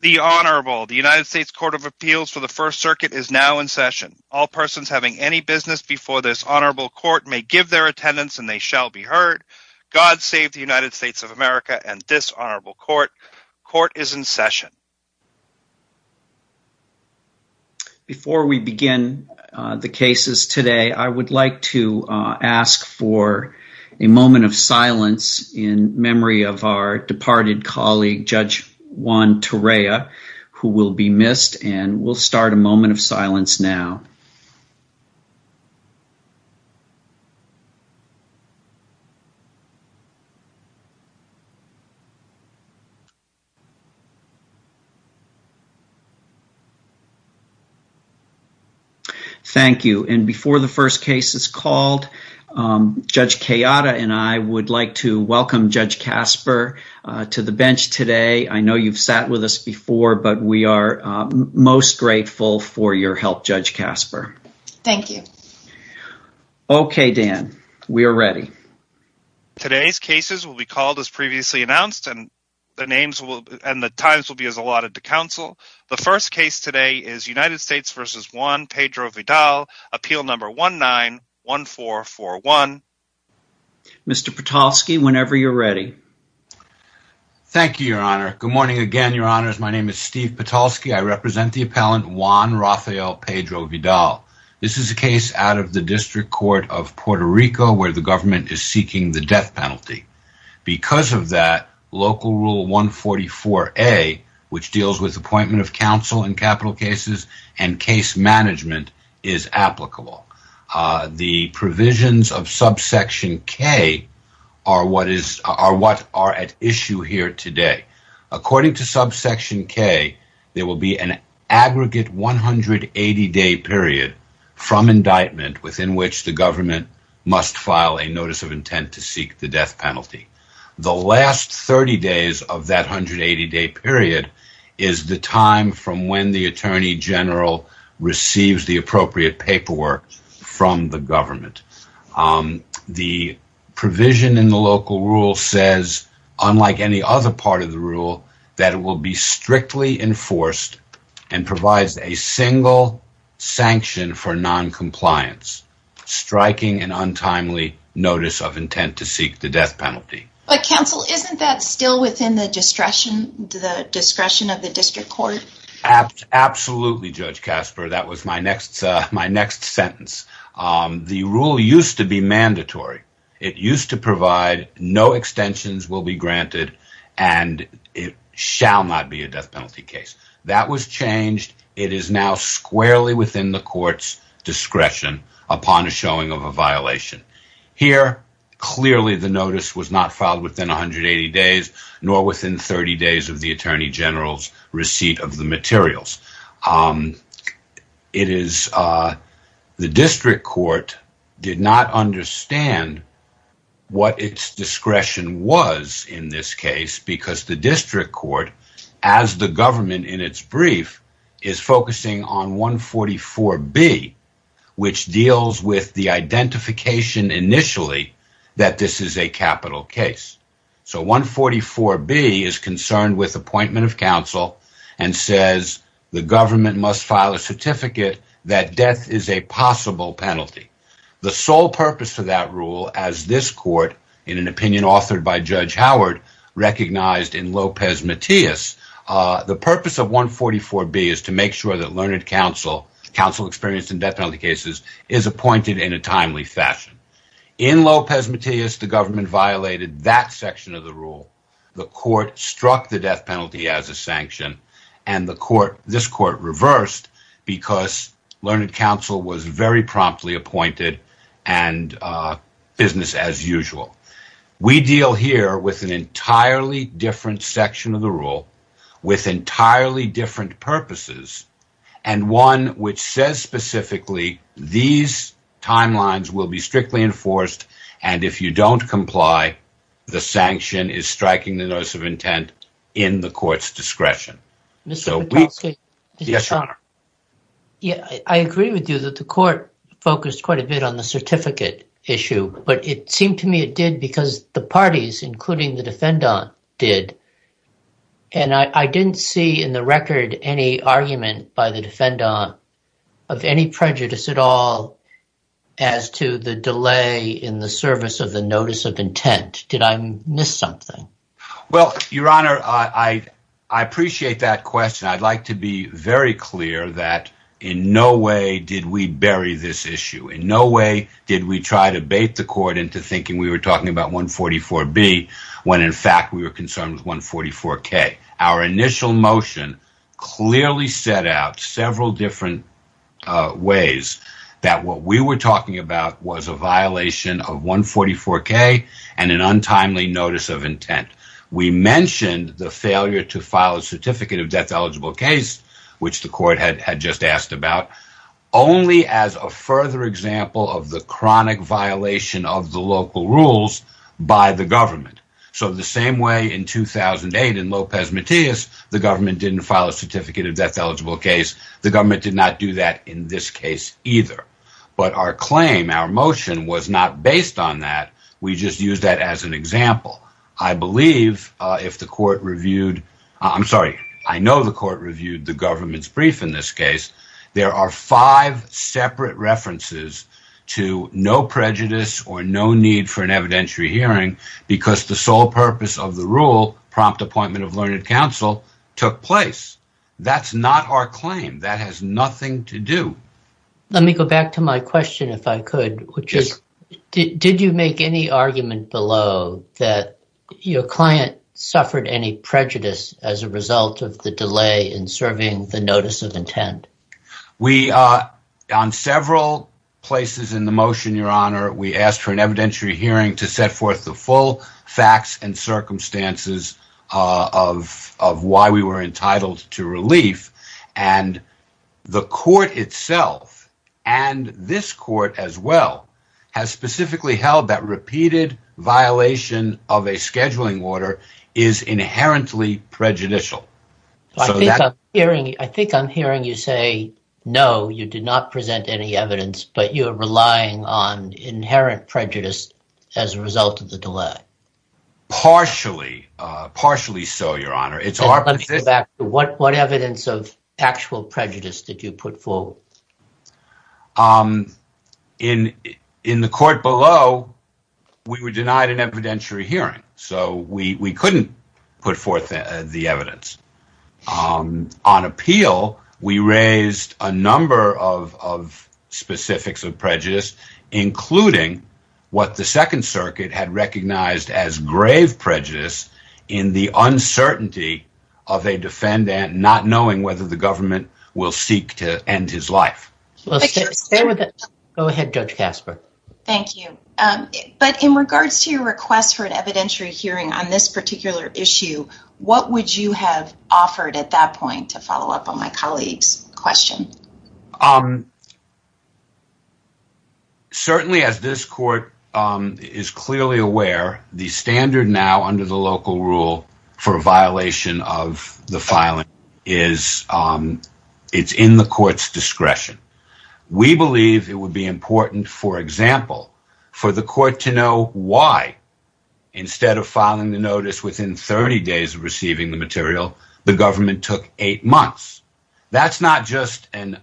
The Honorable, the United States Court of Appeals for the First Circuit is now in session. All persons having any business before this Honorable Court may give their attendance and they shall be heard. God save the United States of America and this Honorable Court. Court is in session. Before we begin the cases today, I would like to ask for a moment of silence in memory of our departed colleague, Judge Juan Torrea, who will be missed and we'll start a moment of silence now. Thank you. And before the first case is called, Judge Kayada and I would like to welcome Judge Casper to the bench today. I know you've sat with us before, but we are most grateful for your help, Judge Casper. Thank you. Okay, Dan, we are ready. Today's cases will be called as previously announced and the names and the times will be as allotted to counsel. The first case today is United States v. Juan Pedro-Vidal, appeal number 19-1441. Mr. Patalsky, whenever you're ready. Thank you, Your Honor. Good morning again, Your Honors. My name is Steve Patalsky. I represent the appellant Juan Rafael Pedro-Vidal. This is a case out of the District Court of Puerto Rico where the government is seeking the death penalty. Because of that, Local Rule 144A, which deals with appointment of counsel in capital cases and case management, is applicable. The provisions of subsection K are what are at issue here today. According to subsection K, there will be an aggregate 180-day period from indictment within which the government must file a notice of intent to seek the death penalty. The last 30 days of that 180-day period is the time from when the attorney general receives the appropriate paperwork from the government. The provision in the Local Rule says, unlike any other part of the Rule, that it will be strictly enforced and provides a single sanction for noncompliance, striking an untimely notice of intent to seek the death penalty. But counsel, isn't that still within the discretion of the District Court? Absolutely, Judge Kasper. That was my next sentence. The Rule used to be mandatory. It used to provide no extensions will be granted and it shall not be a death penalty case. That was changed. It is now squarely within the court's discretion upon the showing of a violation. Here, clearly the notice was not filed within 180 days nor within 30 days of the attorney general's receipt of the materials. The District Court did not understand what its discretion was in this case because the District Court, as the government in its brief, is focusing on 144B which deals with the identification initially that this is a capital case. 144B is concerned with appointment of counsel and says the government must file a certificate that death is a possible penalty. The sole purpose of that Rule, as this court, in an opinion authored by Judge Howard, recognized in Lopez-Matias, the purpose of 144B is to make sure that learned counsel, counsel experienced in death penalty cases, is appointed in a timely fashion. In Lopez-Matias, the government violated that section of the Rule. The court struck the death penalty as a sanction and this court reversed because learned counsel was very promptly appointed and business as usual. We deal here with an entirely different section of the Rule with entirely different purposes and one which says specifically these timelines will be strictly enforced and if you don't comply, the sanction is striking the notice of intent in the court's discretion. I agree with you that the court focused quite a bit on the certificate issue but it seemed to me it did because the parties including the defendant did and I didn't see in the record any argument by the defendant of any prejudice at all as to the delay in the service of the notice of intent. Did I miss something? Your Honor, I appreciate that question. I'd like to be very clear that in no way did we bury this issue. In no way did we try to bait the court into thinking we were talking about 144B when in fact we were concerned with 144K. Our initial motion clearly set out several different ways that what we were talking about was a violation of 144K and an untimely notice of intent. We mentioned the failure to file a certificate of death eligible case which the court had just asked about only as a further example of the chronic violation of the local rules by the government. The same way in 2008 in Lopez Matias, the government didn't file a certificate of death eligible case, the government did not do that in this case either but our claim, our motion was not based on that. We just used that as an example. I know the court reviewed the government's brief in this case. There are five separate references to no prejudice or no need for an evidentiary hearing because the sole purpose of the rule, prompt appointment of learned counsel, took place. That's not our claim. That has nothing to do. Let me go back to my question if I could. Did you make any argument below that your client suffered any prejudice as a result of the delay in serving the notice of intent? I think I'm hearing you say no, you did not present any evidence but you're relying on inherent prejudice as a result of the delay. Partially so, your honor. What evidence of actual prejudice did you put forth? Thank you. But in regards to your request for an evidentiary hearing on this particular issue, what would you have offered at that point to follow up on my colleague's question? Certainly as this court is clearly aware, the standard now under the local rule for a violation of the filing is in the court's discretion. We believe it would be important, for example, for the court to know why instead of filing the notice within 30 days of receiving the material, the government took eight months. That's not just an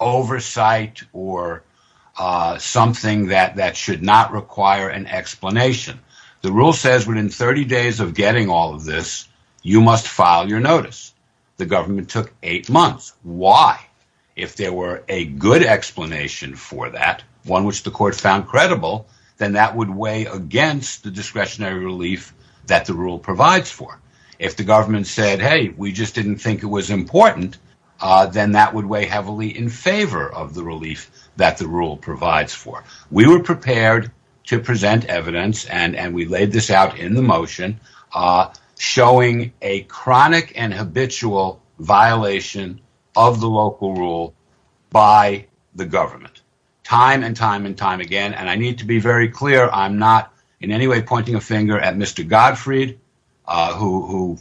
oversight or something that should not require an explanation. The rule says within 30 days of getting all of this, you must file your notice. The government took eight months. Why? If there were a good explanation for that, one which the court found credible, then that would weigh against the discretionary relief that the rule provides for. If the government said, hey, we just didn't think it was important, then that would weigh heavily in favor of the relief that the rule provides for. We were prepared to present evidence, and we laid this out in the motion, showing a chronic and habitual violation of the local rule by the government time and time and time again. I need to be very clear. I'm not in any way pointing a finger at Mr. Gottfried, who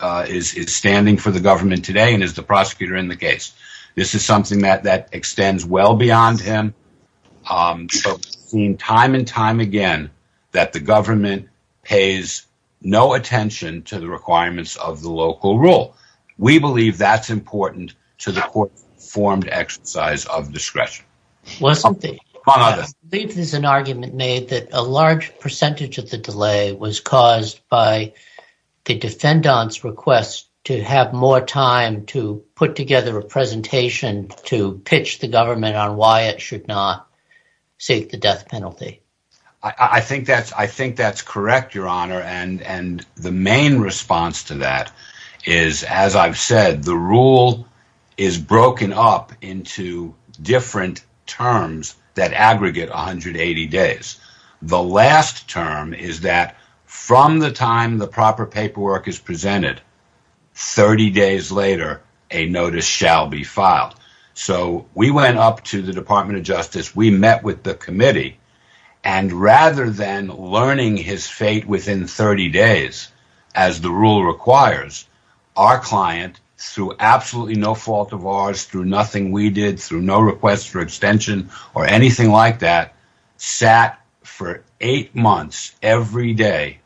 is standing for the government today and is the prosecutor in the case. This is something that extends well beyond him. We've seen time and time again that the government pays no attention to the requirements of the local rule. We believe that's important to the court's informed exercise of discretion. I believe there's an argument made that a large percentage of the delay was caused by the defendant's request to have more time to put together a presentation to pitch the government on why it should not seek the death penalty. I think that's correct, Your Honor. The main response to that is, as I've said, the rule is broken up into different terms that aggregate 180 days. The last term is that from the time the proper paperwork is presented, 30 days later, a notice shall be filed. We went up to the Department of Justice. We met with the committee. Rather than learning his fate within 30 days, as the rule requires, our client, through absolutely no fault of ours, through nothing we did, through no request for extension or anything like that, sat for eight months every day,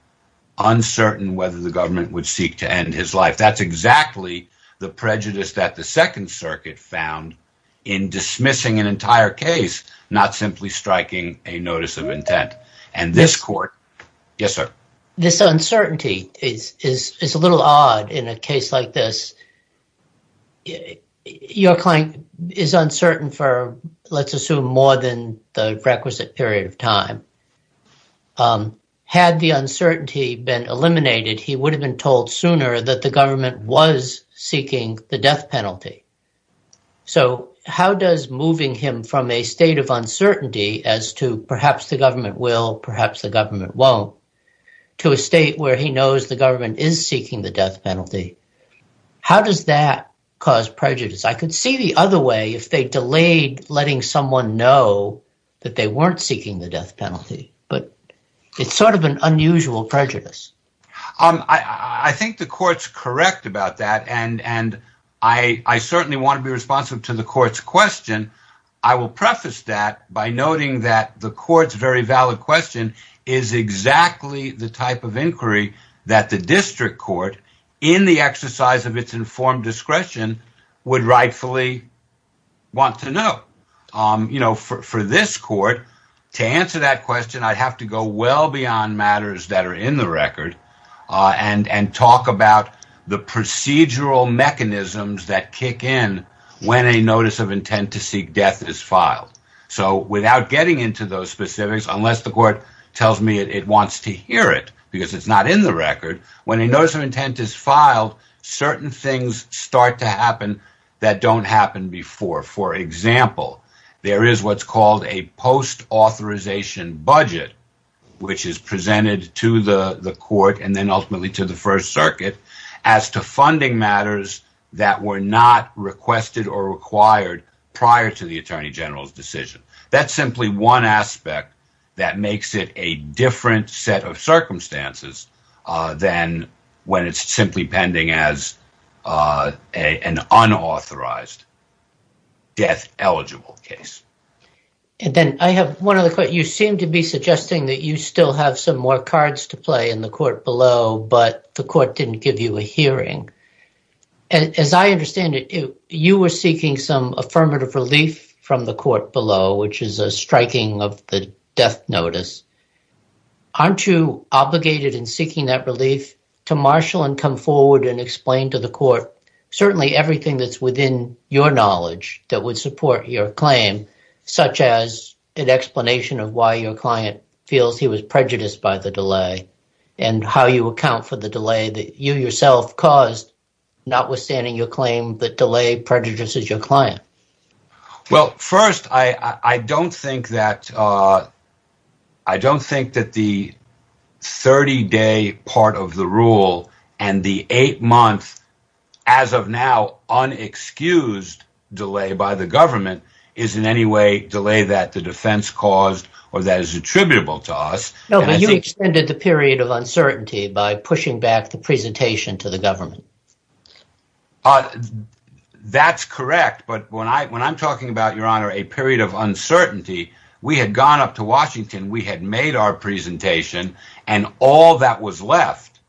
uncertain whether the government would seek to end his life. That's exactly the prejudice that the Second Circuit found in dismissing an entire case, not simply striking a notice of intent. This uncertainty is a little odd in a case like this. Your client is uncertain for, let's assume, more than the requisite period of time. Had the uncertainty been eliminated, he would have been told sooner that the government was seeking the death penalty. How does moving him from a state of uncertainty as to perhaps the government will, perhaps the government won't, to a state where he knows the government is seeking the death penalty, how does that cause prejudice? I could see the other way if they delayed letting someone know that they weren't seeking the death penalty, but it's sort of an unusual prejudice. I think the court's correct about that and I certainly want to be responsive to the court's question. I will preface that by noting that the court's very valid question is exactly the type of inquiry that the district court, in the exercise of its informed discretion, would rightfully want to know. For this court, to answer that question, I'd have to go well beyond matters that are in the record and talk about the procedural mechanisms that kick in when a notice of intent to seek death is filed. Without getting into those specifics, unless the court tells me it wants to hear it because it's not in the record, when a notice of intent is filed, certain things start to happen that don't happen before. For example, there is what's called a post-authorization budget, which is presented to the court and then ultimately to the First Circuit as to funding matters that were not requested or required prior to the Attorney General's decision. That's simply one aspect that makes it a different set of circumstances than when it's simply pending as an unauthorized death-eligible case. You seem to be suggesting that you still have some more cards to play in the court below, but the court didn't give you a hearing. As I understand it, you were seeking some affirmative relief from the court below, which is a striking of the death notice. Aren't you obligated in seeking that relief to marshal and come forward and explain to the court certainly everything that's within your knowledge that would support your claim, such as an explanation of why your client feels he was prejudiced by the delay and how you account for the delay that you yourself caused, notwithstanding your claim that delay prejudices your client? First, I don't think that the 30-day part of the rule and the eight-month as of now unexcused delay by the government is in any way delay that the defense caused or that is attributable to us. You extended the period of uncertainty by pushing back the presentation to the government. That's correct, but when I'm talking about a period of uncertainty, we had gone up to Washington, we had made our presentation, and all that was left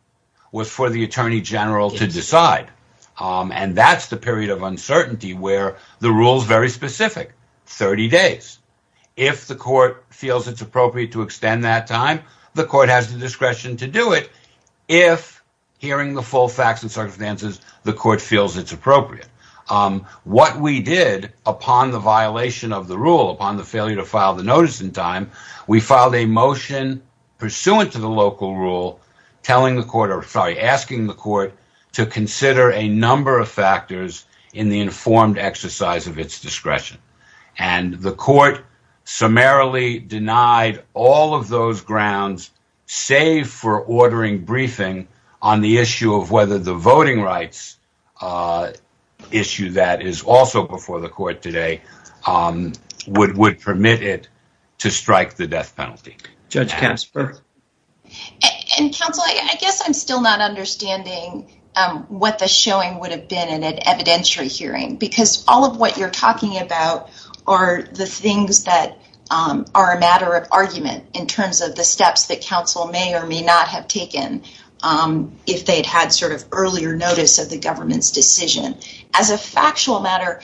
was for the attorney general to decide. That's the period of uncertainty where the rule is very specific, 30 days. If the court feels it's appropriate to extend that time, the court has the discretion to do it. If hearing the full facts and circumstances, the court feels it's appropriate. What we did upon the violation of the rule, upon the failure to file the notice in time, we filed a motion pursuant to the local rule asking the court to consider a number of factors in the informed exercise of its discretion. The court summarily denied all of those grounds save for ordering briefing on the issue of whether the voting rights issue that is also before the court today would permit it to strike the death penalty. Judge Kasper? Counsel, I guess I'm still not understanding what the showing would have been in an evidentiary hearing because all of what you're talking about are the things that are a matter of argument in terms of the steps that counsel may or may not have taken if they'd had sort of earlier notice of the government's decision. As a factual matter,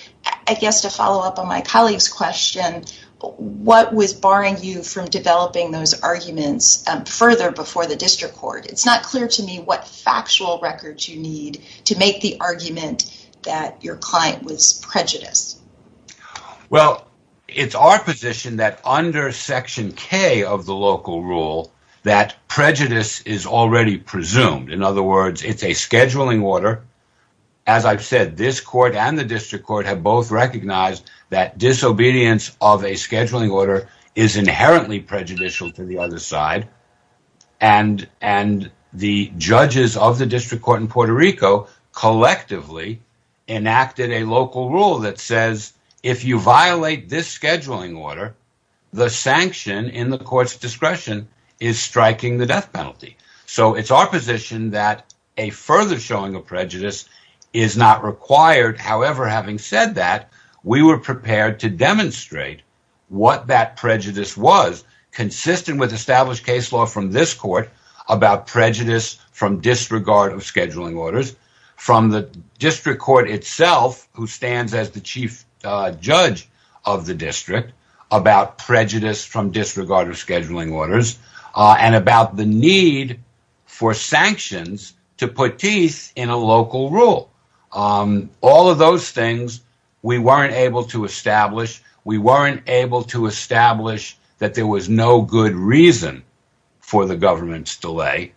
I guess to follow up on my colleague's question, what was barring you from developing those arguments further before the district court? It's not clear to me what factual records you need to make the argument that your client was prejudiced. Well, it's our position that under Section K of the local rule that prejudice is already presumed. In other words, it's a scheduling order. As I've said, this court and the district court have both recognized that disobedience of a scheduling order is inherently prejudicial to the other side and the judges of the district court in Puerto Rico collectively enacted a local rule that says if you violate this scheduling order, the sanction in the court's discretion is striking the death penalty. So it's our position that a further showing of prejudice is not required. However, having said that, we were prepared to demonstrate what that prejudice was consistent with established case law from this court about prejudice from disregard of scheduling orders. We weren't able to establish that there was no good reason for the government's delay,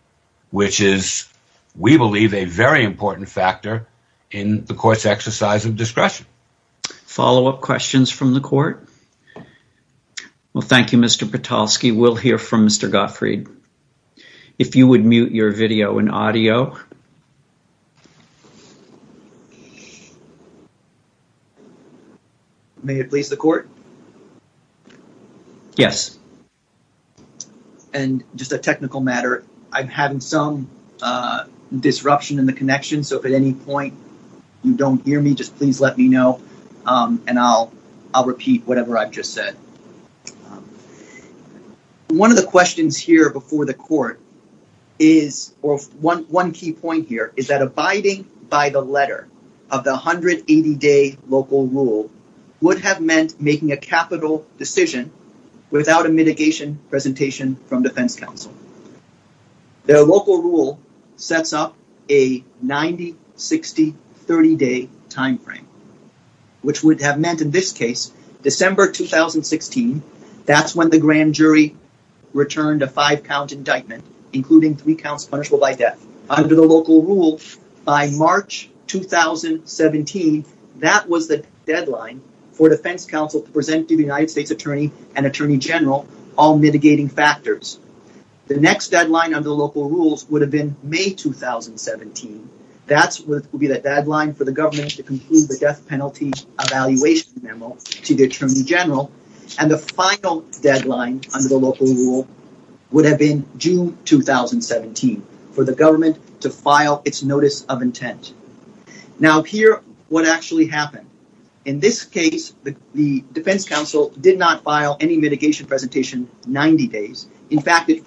which is, we believe, a very important factor in the court's exercise of discretion. Follow-up questions from the court? Well, thank you, Mr. Petoskey. We'll hear from Mr. Gottfried. If you would mute your video and audio. May it please the court? Yes. And just a technical matter. I'm having some disruption in the connection. So if at any point you don't hear me, just please let me know and I'll repeat whatever I've just said. One of the questions here before the court is, or one key point here, is that abiding by the letter of the 180-day local rule would have meant making a capital decision without a mitigation presentation from defense counsel. The local rule sets up a 90, 60, 30-day timeframe, which would have meant, in this case, December 2016, that's when the grand jury returned a five-count indictment, including three counts punishable by death. Under the local rule, by March 2017, that was the deadline for defense counsel to present to the United States Attorney and Attorney General all mitigating factors. The next deadline under the local rules would have been May 2017. That would be the deadline for the government to conclude the death penalty evaluation memo to the Attorney General. And the final deadline under the local rule would have been June 2017, for the government to file its notice of intent. Now, here what actually happened. In this case, the defense counsel did not file any mitigation presentation 90 days. In fact, it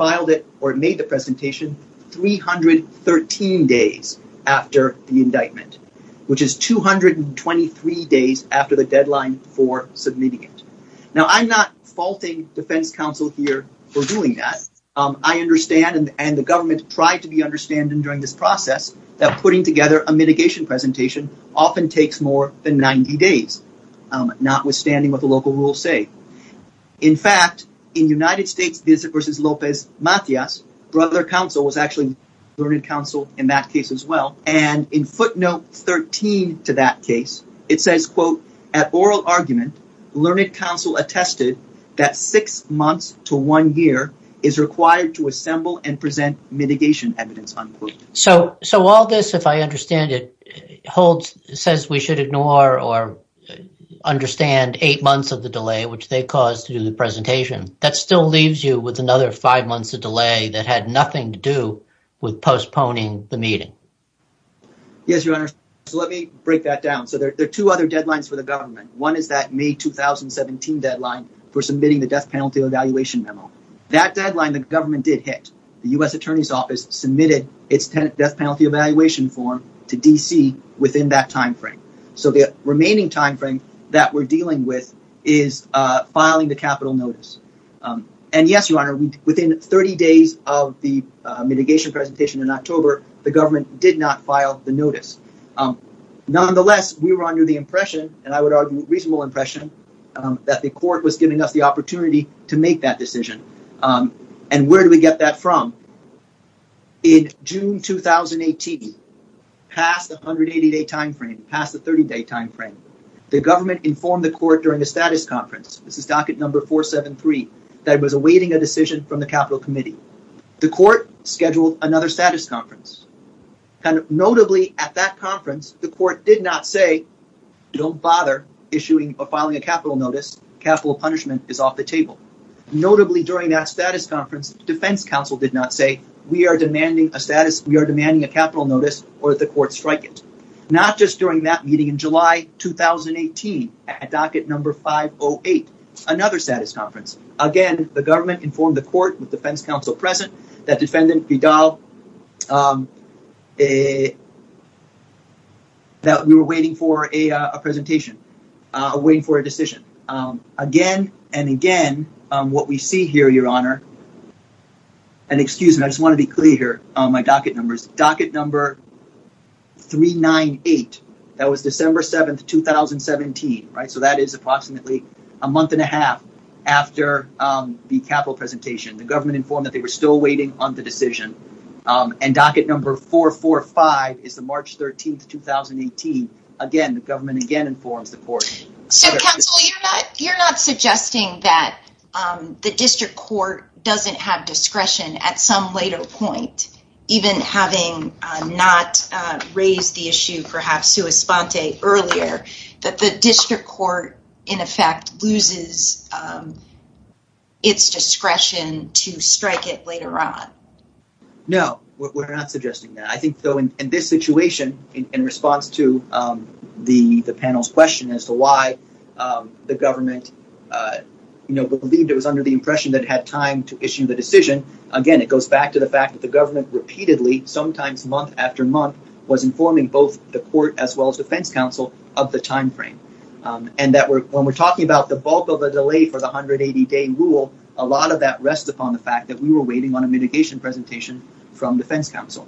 made the presentation 313 days after the indictment, which is 223 days after the deadline for submitting it. Now, I'm not faulting defense counsel here for doing that. I understand, and the government tried to be understanding during this process, that putting together a mitigation presentation often takes more than 90 days, notwithstanding what the local rules say. In fact, in United States v. Lopez-Matias, Brother Counsel was actually learned counsel in that case as well. And in footnote 13 to that case, it says, quote, At oral argument, learned counsel attested that six months to one year is required to assemble and present mitigation evidence, unquote. So all this, if I understand it, says we should ignore or understand eight months of the delay, which they caused to do the presentation. That still leaves you with another five months of delay that had nothing to do with postponing the meeting. Yes, Your Honor. So let me break that down. So there are two other deadlines for the government. One is that May 2017 deadline for submitting the death penalty evaluation memo. That deadline the government did hit. The U.S. Attorney's Office submitted its death penalty evaluation form to D.C. within that timeframe. So the remaining timeframe that we're dealing with is filing the capital notice. And yes, Your Honor, within 30 days of the mitigation presentation in October, the government did not file the notice. Nonetheless, we were under the impression, and I would argue reasonable impression, that the court was giving us the opportunity to make that decision. And where do we get that from? In June 2018, past the 180 day timeframe, past the 30 day timeframe, the government informed the court during a status conference. This is docket number 473, that it was awaiting a decision from the capital committee. The court scheduled another status conference. Notably, at that conference, the court did not say, don't bother issuing or filing a capital notice. Capital punishment is off the table. Notably, during that status conference, defense counsel did not say, we are demanding a status, we are demanding a capital notice or the court strike it. Not just during that meeting in July 2018, at docket number 508, another status conference. Again, the government informed the court with defense counsel present, that defendant, Vidal, that we were waiting for a presentation, waiting for a decision. Again and again, what we see here, Your Honor, and excuse me, I just want to be clear here on my docket numbers. Docket number 398, that was December 7th, 2017. So that is approximately a month and a half after the capital presentation. The government informed that they were still waiting on the decision. And docket number 445 is the March 13th, 2018. Again, the government again informs the court. So counsel, you're not suggesting that the district court doesn't have discretion at some later point, even having not raised the issue perhaps to a sponte earlier, that the district court in effect loses its discretion to strike it later on. No, we're not suggesting that. I think in this situation, in response to the panel's question as to why the government believed it was under the impression that it had time to issue the decision, again, it goes back to the fact that the government repeatedly, sometimes month after month, was informing both the court as well as defense counsel of the time frame. And when we're talking about the bulk of the delay for the 180-day rule, a lot of that rests upon the fact that we were waiting on a mitigation presentation from defense counsel.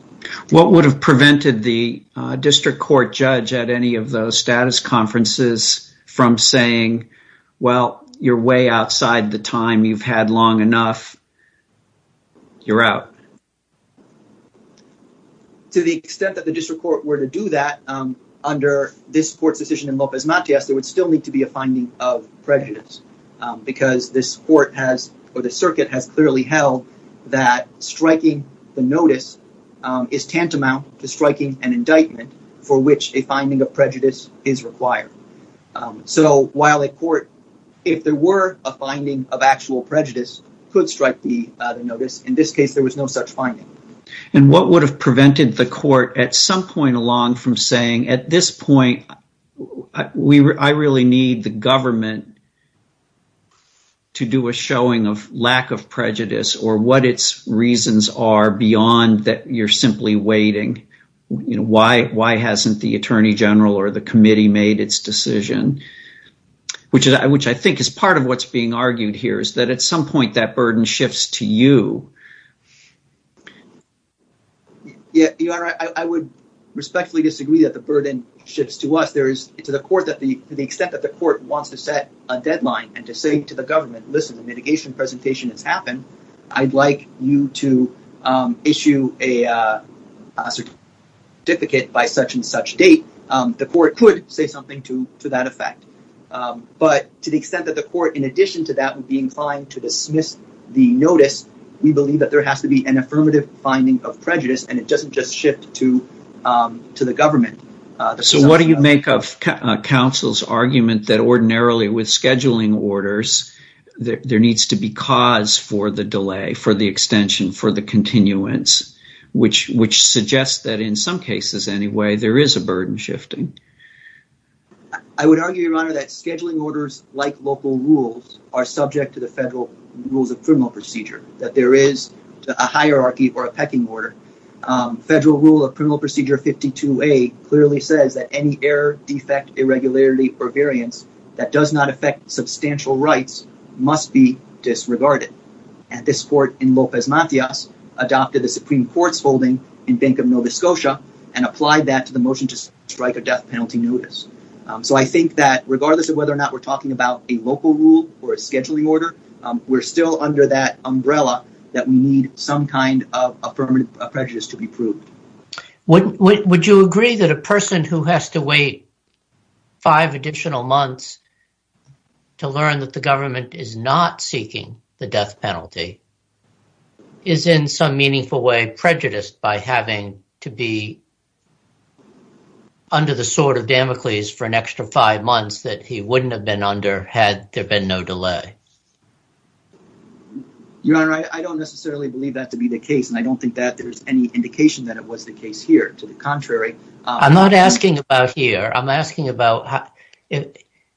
What would have prevented the district court judge at any of those status conferences from saying, well, you're way outside the time you've had long enough. You're out. To the extent that the district court were to do that under this court's decision in Lopez Matias, there would still need to be a finding of prejudice because this court has or the circuit has clearly held that striking the notice is tantamount to striking an indictment for which a finding of prejudice is required. So while a court, if there were a finding of actual prejudice, could strike the notice, in this case, there was no such finding. And what would have prevented the court at some point along from saying, at this point, I really need the government to do a showing of lack of prejudice or what its reasons are beyond that you're simply waiting. Why hasn't the attorney general or the committee made its decision, which I think is part of what's being argued here is that at some point that burden shifts to you. Yeah, I would respectfully disagree that the burden shifts to us. There is to the court that the extent that the court wants to set a deadline and to say to the government, listen, the mitigation presentation has happened. I'd like you to issue a certificate by such and such date. The court could say something to that effect. But to the extent that the court, in addition to that, would be inclined to dismiss the notice, we believe that there has to be an affirmative finding of prejudice and it doesn't just shift to the government. So what do you make of counsel's argument that ordinarily with scheduling orders, there needs to be cause for the delay, for the extension, for the continuance, which suggests that in some cases anyway, there is a burden shifting. I would argue, Your Honor, that scheduling orders like local rules are subject to the federal rules of criminal procedure, that there is a hierarchy or a pecking order. Federal Rule of Criminal Procedure 52A clearly says that any error, defect, irregularity or variance that does not affect substantial rights must be disregarded. And this court in Lopez Matias adopted the Supreme Court's holding in Bank of Nova Scotia and applied that to the motion to strike a death penalty notice. So I think that regardless of whether or not we're talking about a local rule or a scheduling order, we're still under that umbrella that we need some kind of affirmative prejudice to be proved. Would you agree that a person who has to wait five additional months to learn that the government is not seeking the death penalty is in some meaningful way prejudiced by having to be under the sword of Damocles for an extra five months that he wouldn't have been under had there been no delay? Your Honor, I don't necessarily believe that to be the case, and I don't think that there's any indication that it was the case here. To the contrary… I'm not asking about here. I'm asking about…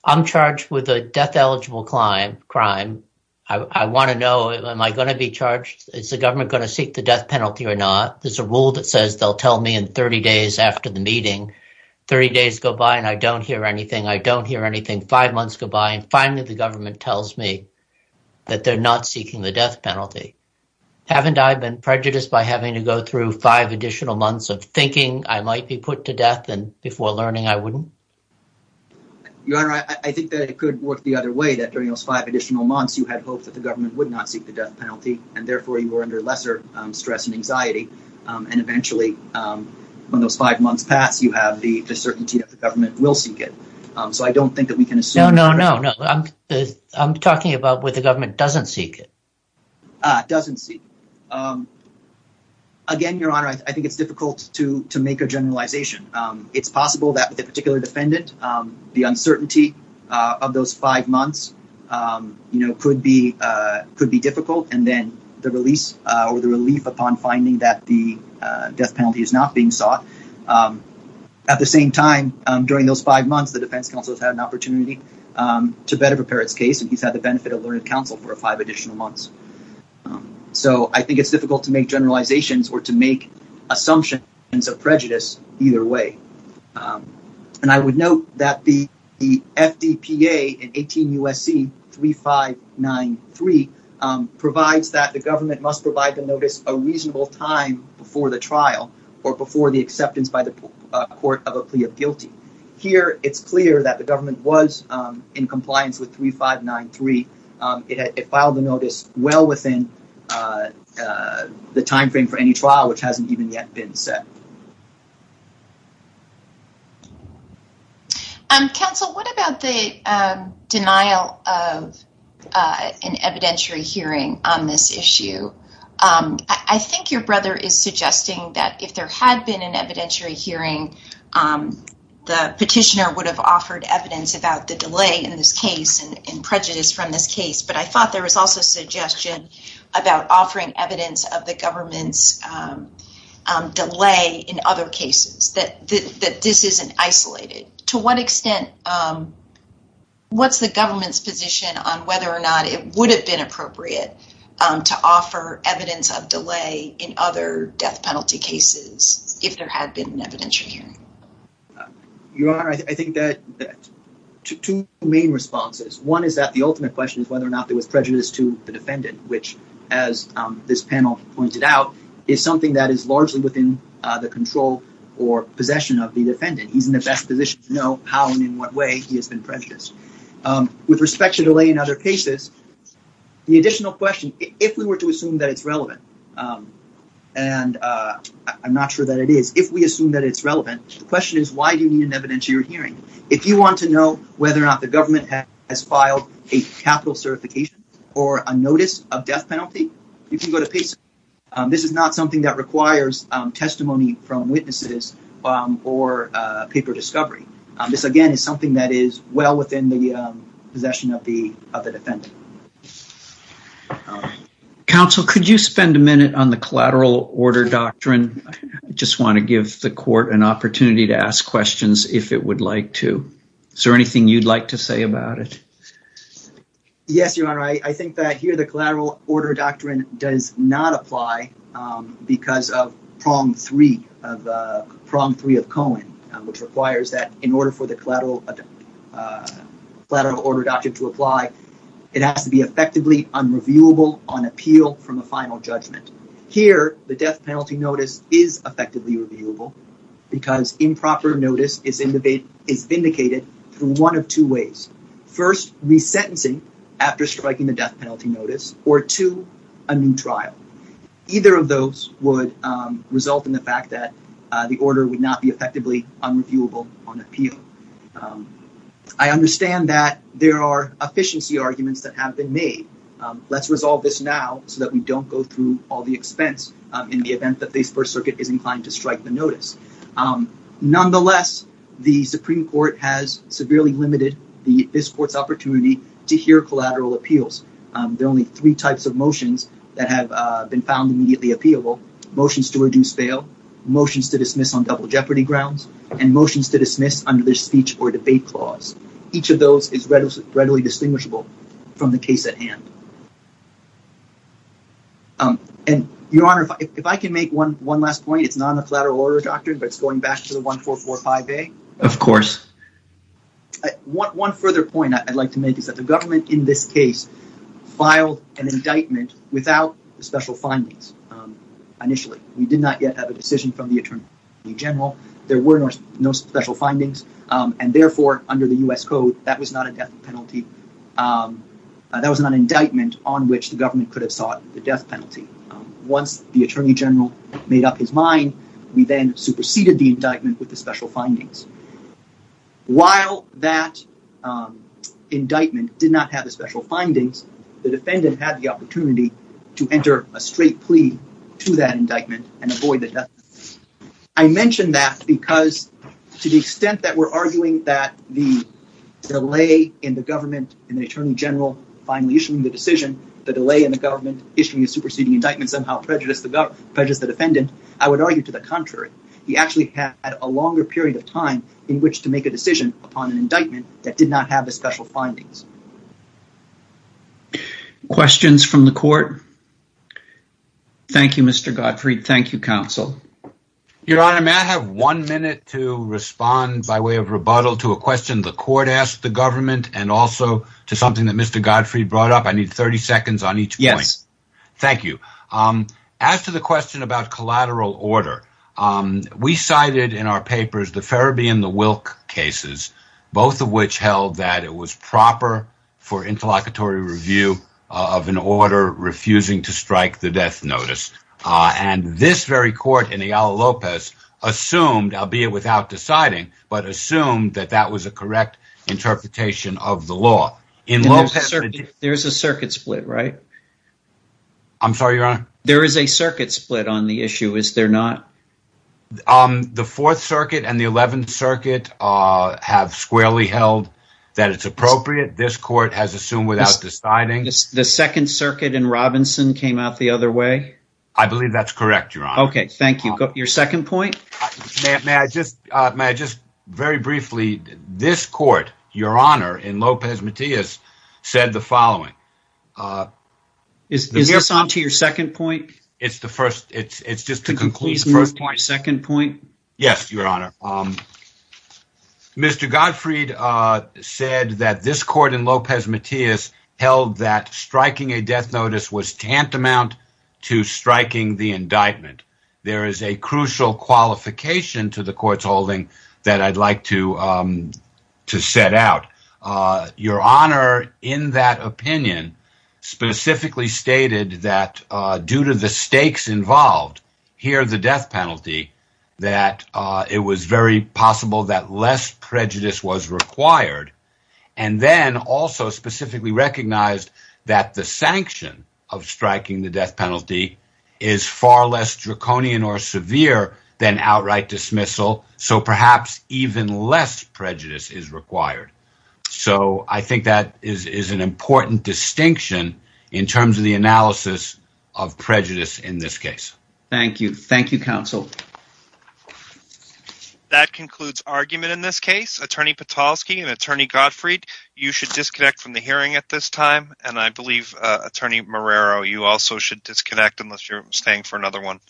I'm charged with a death-eligible crime. I want to know, am I going to be charged? Is the government going to seek the death penalty or not? There's a rule that says they'll tell me in 30 days after the meeting. Thirty days go by and I don't hear anything. I don't hear anything. Five months go by and finally the government tells me that they're not seeking the death penalty. Haven't I been prejudiced by having to go through five additional months of thinking I might be put to death and before learning I wouldn't? Your Honor, I think that it could work the other way, that during those five additional months you had hoped that the government would not seek the death penalty, and therefore you were under lesser stress and anxiety, and eventually when those five months pass you have the certainty that the government will seek it. So I don't think that we can assume… No, no, no. I'm talking about when the government doesn't seek it. Doesn't seek it. Again, Your Honor, I think it's difficult to make a generalization. It's possible that with a particular defendant, the uncertainty of those five months could be difficult, and then the relief upon finding that the death penalty is not being sought. At the same time, during those five months, the defense counsel has had an opportunity to better prepare his case and he's had the benefit of learning counsel for five additional months. So I think it's difficult to make generalizations or to make assumptions of prejudice either way. And I would note that the FDPA in 18 U.S.C. 3593 provides that the government must provide the notice a reasonable time before the trial or before the acceptance by the court of a plea of guilty. Here it's clear that the government was in compliance with 3593. It filed the notice well within the timeframe for any trial, which hasn't even yet been set. Counsel, what about the denial of an evidentiary hearing on this issue? I think your brother is suggesting that if there had been an evidentiary hearing, the petitioner would have offered evidence about the delay in this case and prejudice from this case. But I thought there was also suggestion about offering evidence of the government's delay in other cases, that this isn't isolated. To what extent, what's the government's position on whether or not it would have been appropriate to offer evidence of delay in other death penalty cases if there had been an evidentiary hearing? Your Honor, I think that two main responses. One is that the ultimate question is whether or not there was prejudice to the defendant, which, as this panel pointed out, is something that is largely within the control or possession of the defendant. He's in the best position to know how and in what way he has been prejudiced. With respect to delay in other cases, the additional question, if we were to assume that it's relevant, and I'm not sure that it is, if we assume that it's relevant, the question is why do you need an evidentiary hearing? If you want to know whether or not the government has filed a capital certification or a notice of death penalty, you can go to PISA. This is not something that requires testimony from witnesses or paper discovery. This, again, is something that is well within the possession of the defendant. Counsel, could you spend a minute on the collateral order doctrine? I just want to give the court an opportunity to ask questions if it would like to. Is there anything you'd like to say about it? Yes, Your Honor. I think that here the collateral order doctrine does not apply because of prong three of Cohen, which requires that in order for the collateral order doctrine to apply, it has to be effectively unreviewable on appeal from a final judgment. Here, the death penalty notice is effectively reviewable because improper notice is vindicated through one of two ways. First, resentencing after striking the death penalty notice, or two, a new trial. Either of those would result in the fact that the order would not be effectively unreviewable on appeal. I understand that there are efficiency arguments that have been made. Let's resolve this now so that we don't go through all the expense in the event that the First Circuit is inclined to strike the notice. Nonetheless, the Supreme Court has severely limited this court's opportunity to hear collateral appeals. There are only three types of motions that have been found immediately appealable. Motions to reduce bail, motions to dismiss on double jeopardy grounds, and motions to dismiss under the speech or debate clause. Each of those is readily distinguishable from the case at hand. Your Honor, if I can make one last point. It's not in the collateral order doctrine, but it's going back to the 1445A. Of course. One further point I'd like to make is that the government in this case filed an indictment without the special findings initially. We did not yet have a decision from the Attorney General. There were no special findings, and therefore, under the U.S. Code, that was not a death penalty. That was an indictment on which the government could have sought the death penalty. Once the Attorney General made up his mind, we then superseded the indictment with the special findings. While that indictment did not have the special findings, the defendant had the opportunity to enter a straight plea to that indictment and avoid the death penalty. I mention that because to the extent that we're arguing that the delay in the government and the Attorney General finally issuing the decision, the delay in the government issuing a superseding indictment somehow prejudiced the defendant. I would argue to the contrary. He actually had a longer period of time in which to make a decision upon an indictment that did not have the special findings. Questions from the court? Thank you, Mr. Gottfried. Thank you, counsel. Your Honor, may I have one minute to respond by way of rebuttal to a question the court asked the government and also to something that Mr. Gottfried brought up? I need 30 seconds on each point. Yes. As to the question about collateral order, we cited in our papers the Ferebee and the Wilk cases, both of which held that it was proper for interlocutory review of an order refusing to strike the death notice. This very court in the Al Lopez assumed, albeit without deciding, but assumed that that was a correct interpretation of the law. There's a circuit split, right? I'm sorry, Your Honor? There is a circuit split on the issue, is there not? The Fourth Circuit and the Eleventh Circuit have squarely held that it's appropriate. This court has assumed without deciding. The Second Circuit in Robinson came out the other way? I believe that's correct, Your Honor. Okay, thank you. Your second point? May I just, very briefly, this court, Your Honor, in Lopez-Matias, said the following. Is this on to your second point? It's the first, it's just to conclude. Please move to my second point. Yes, Your Honor. Mr. Gottfried said that this court in Lopez-Matias held that striking a death notice was tantamount to striking the indictment. There is a crucial qualification to the court's holding that I'd like to set out. Your Honor, in that opinion, specifically stated that due to the stakes involved, here the death penalty, that it was very possible that less prejudice was required. And then also specifically recognized that the sanction of striking the death penalty is far less draconian or severe than outright dismissal, so perhaps even less prejudice is required. So I think that is an important distinction in terms of the analysis of prejudice in this case. Thank you. Thank you, counsel. That concludes argument in this case. Attorney Pitalski and Attorney Gottfried, you should disconnect from the hearing at this time. And I believe Attorney Marrero, you also should disconnect unless you're staying for another one.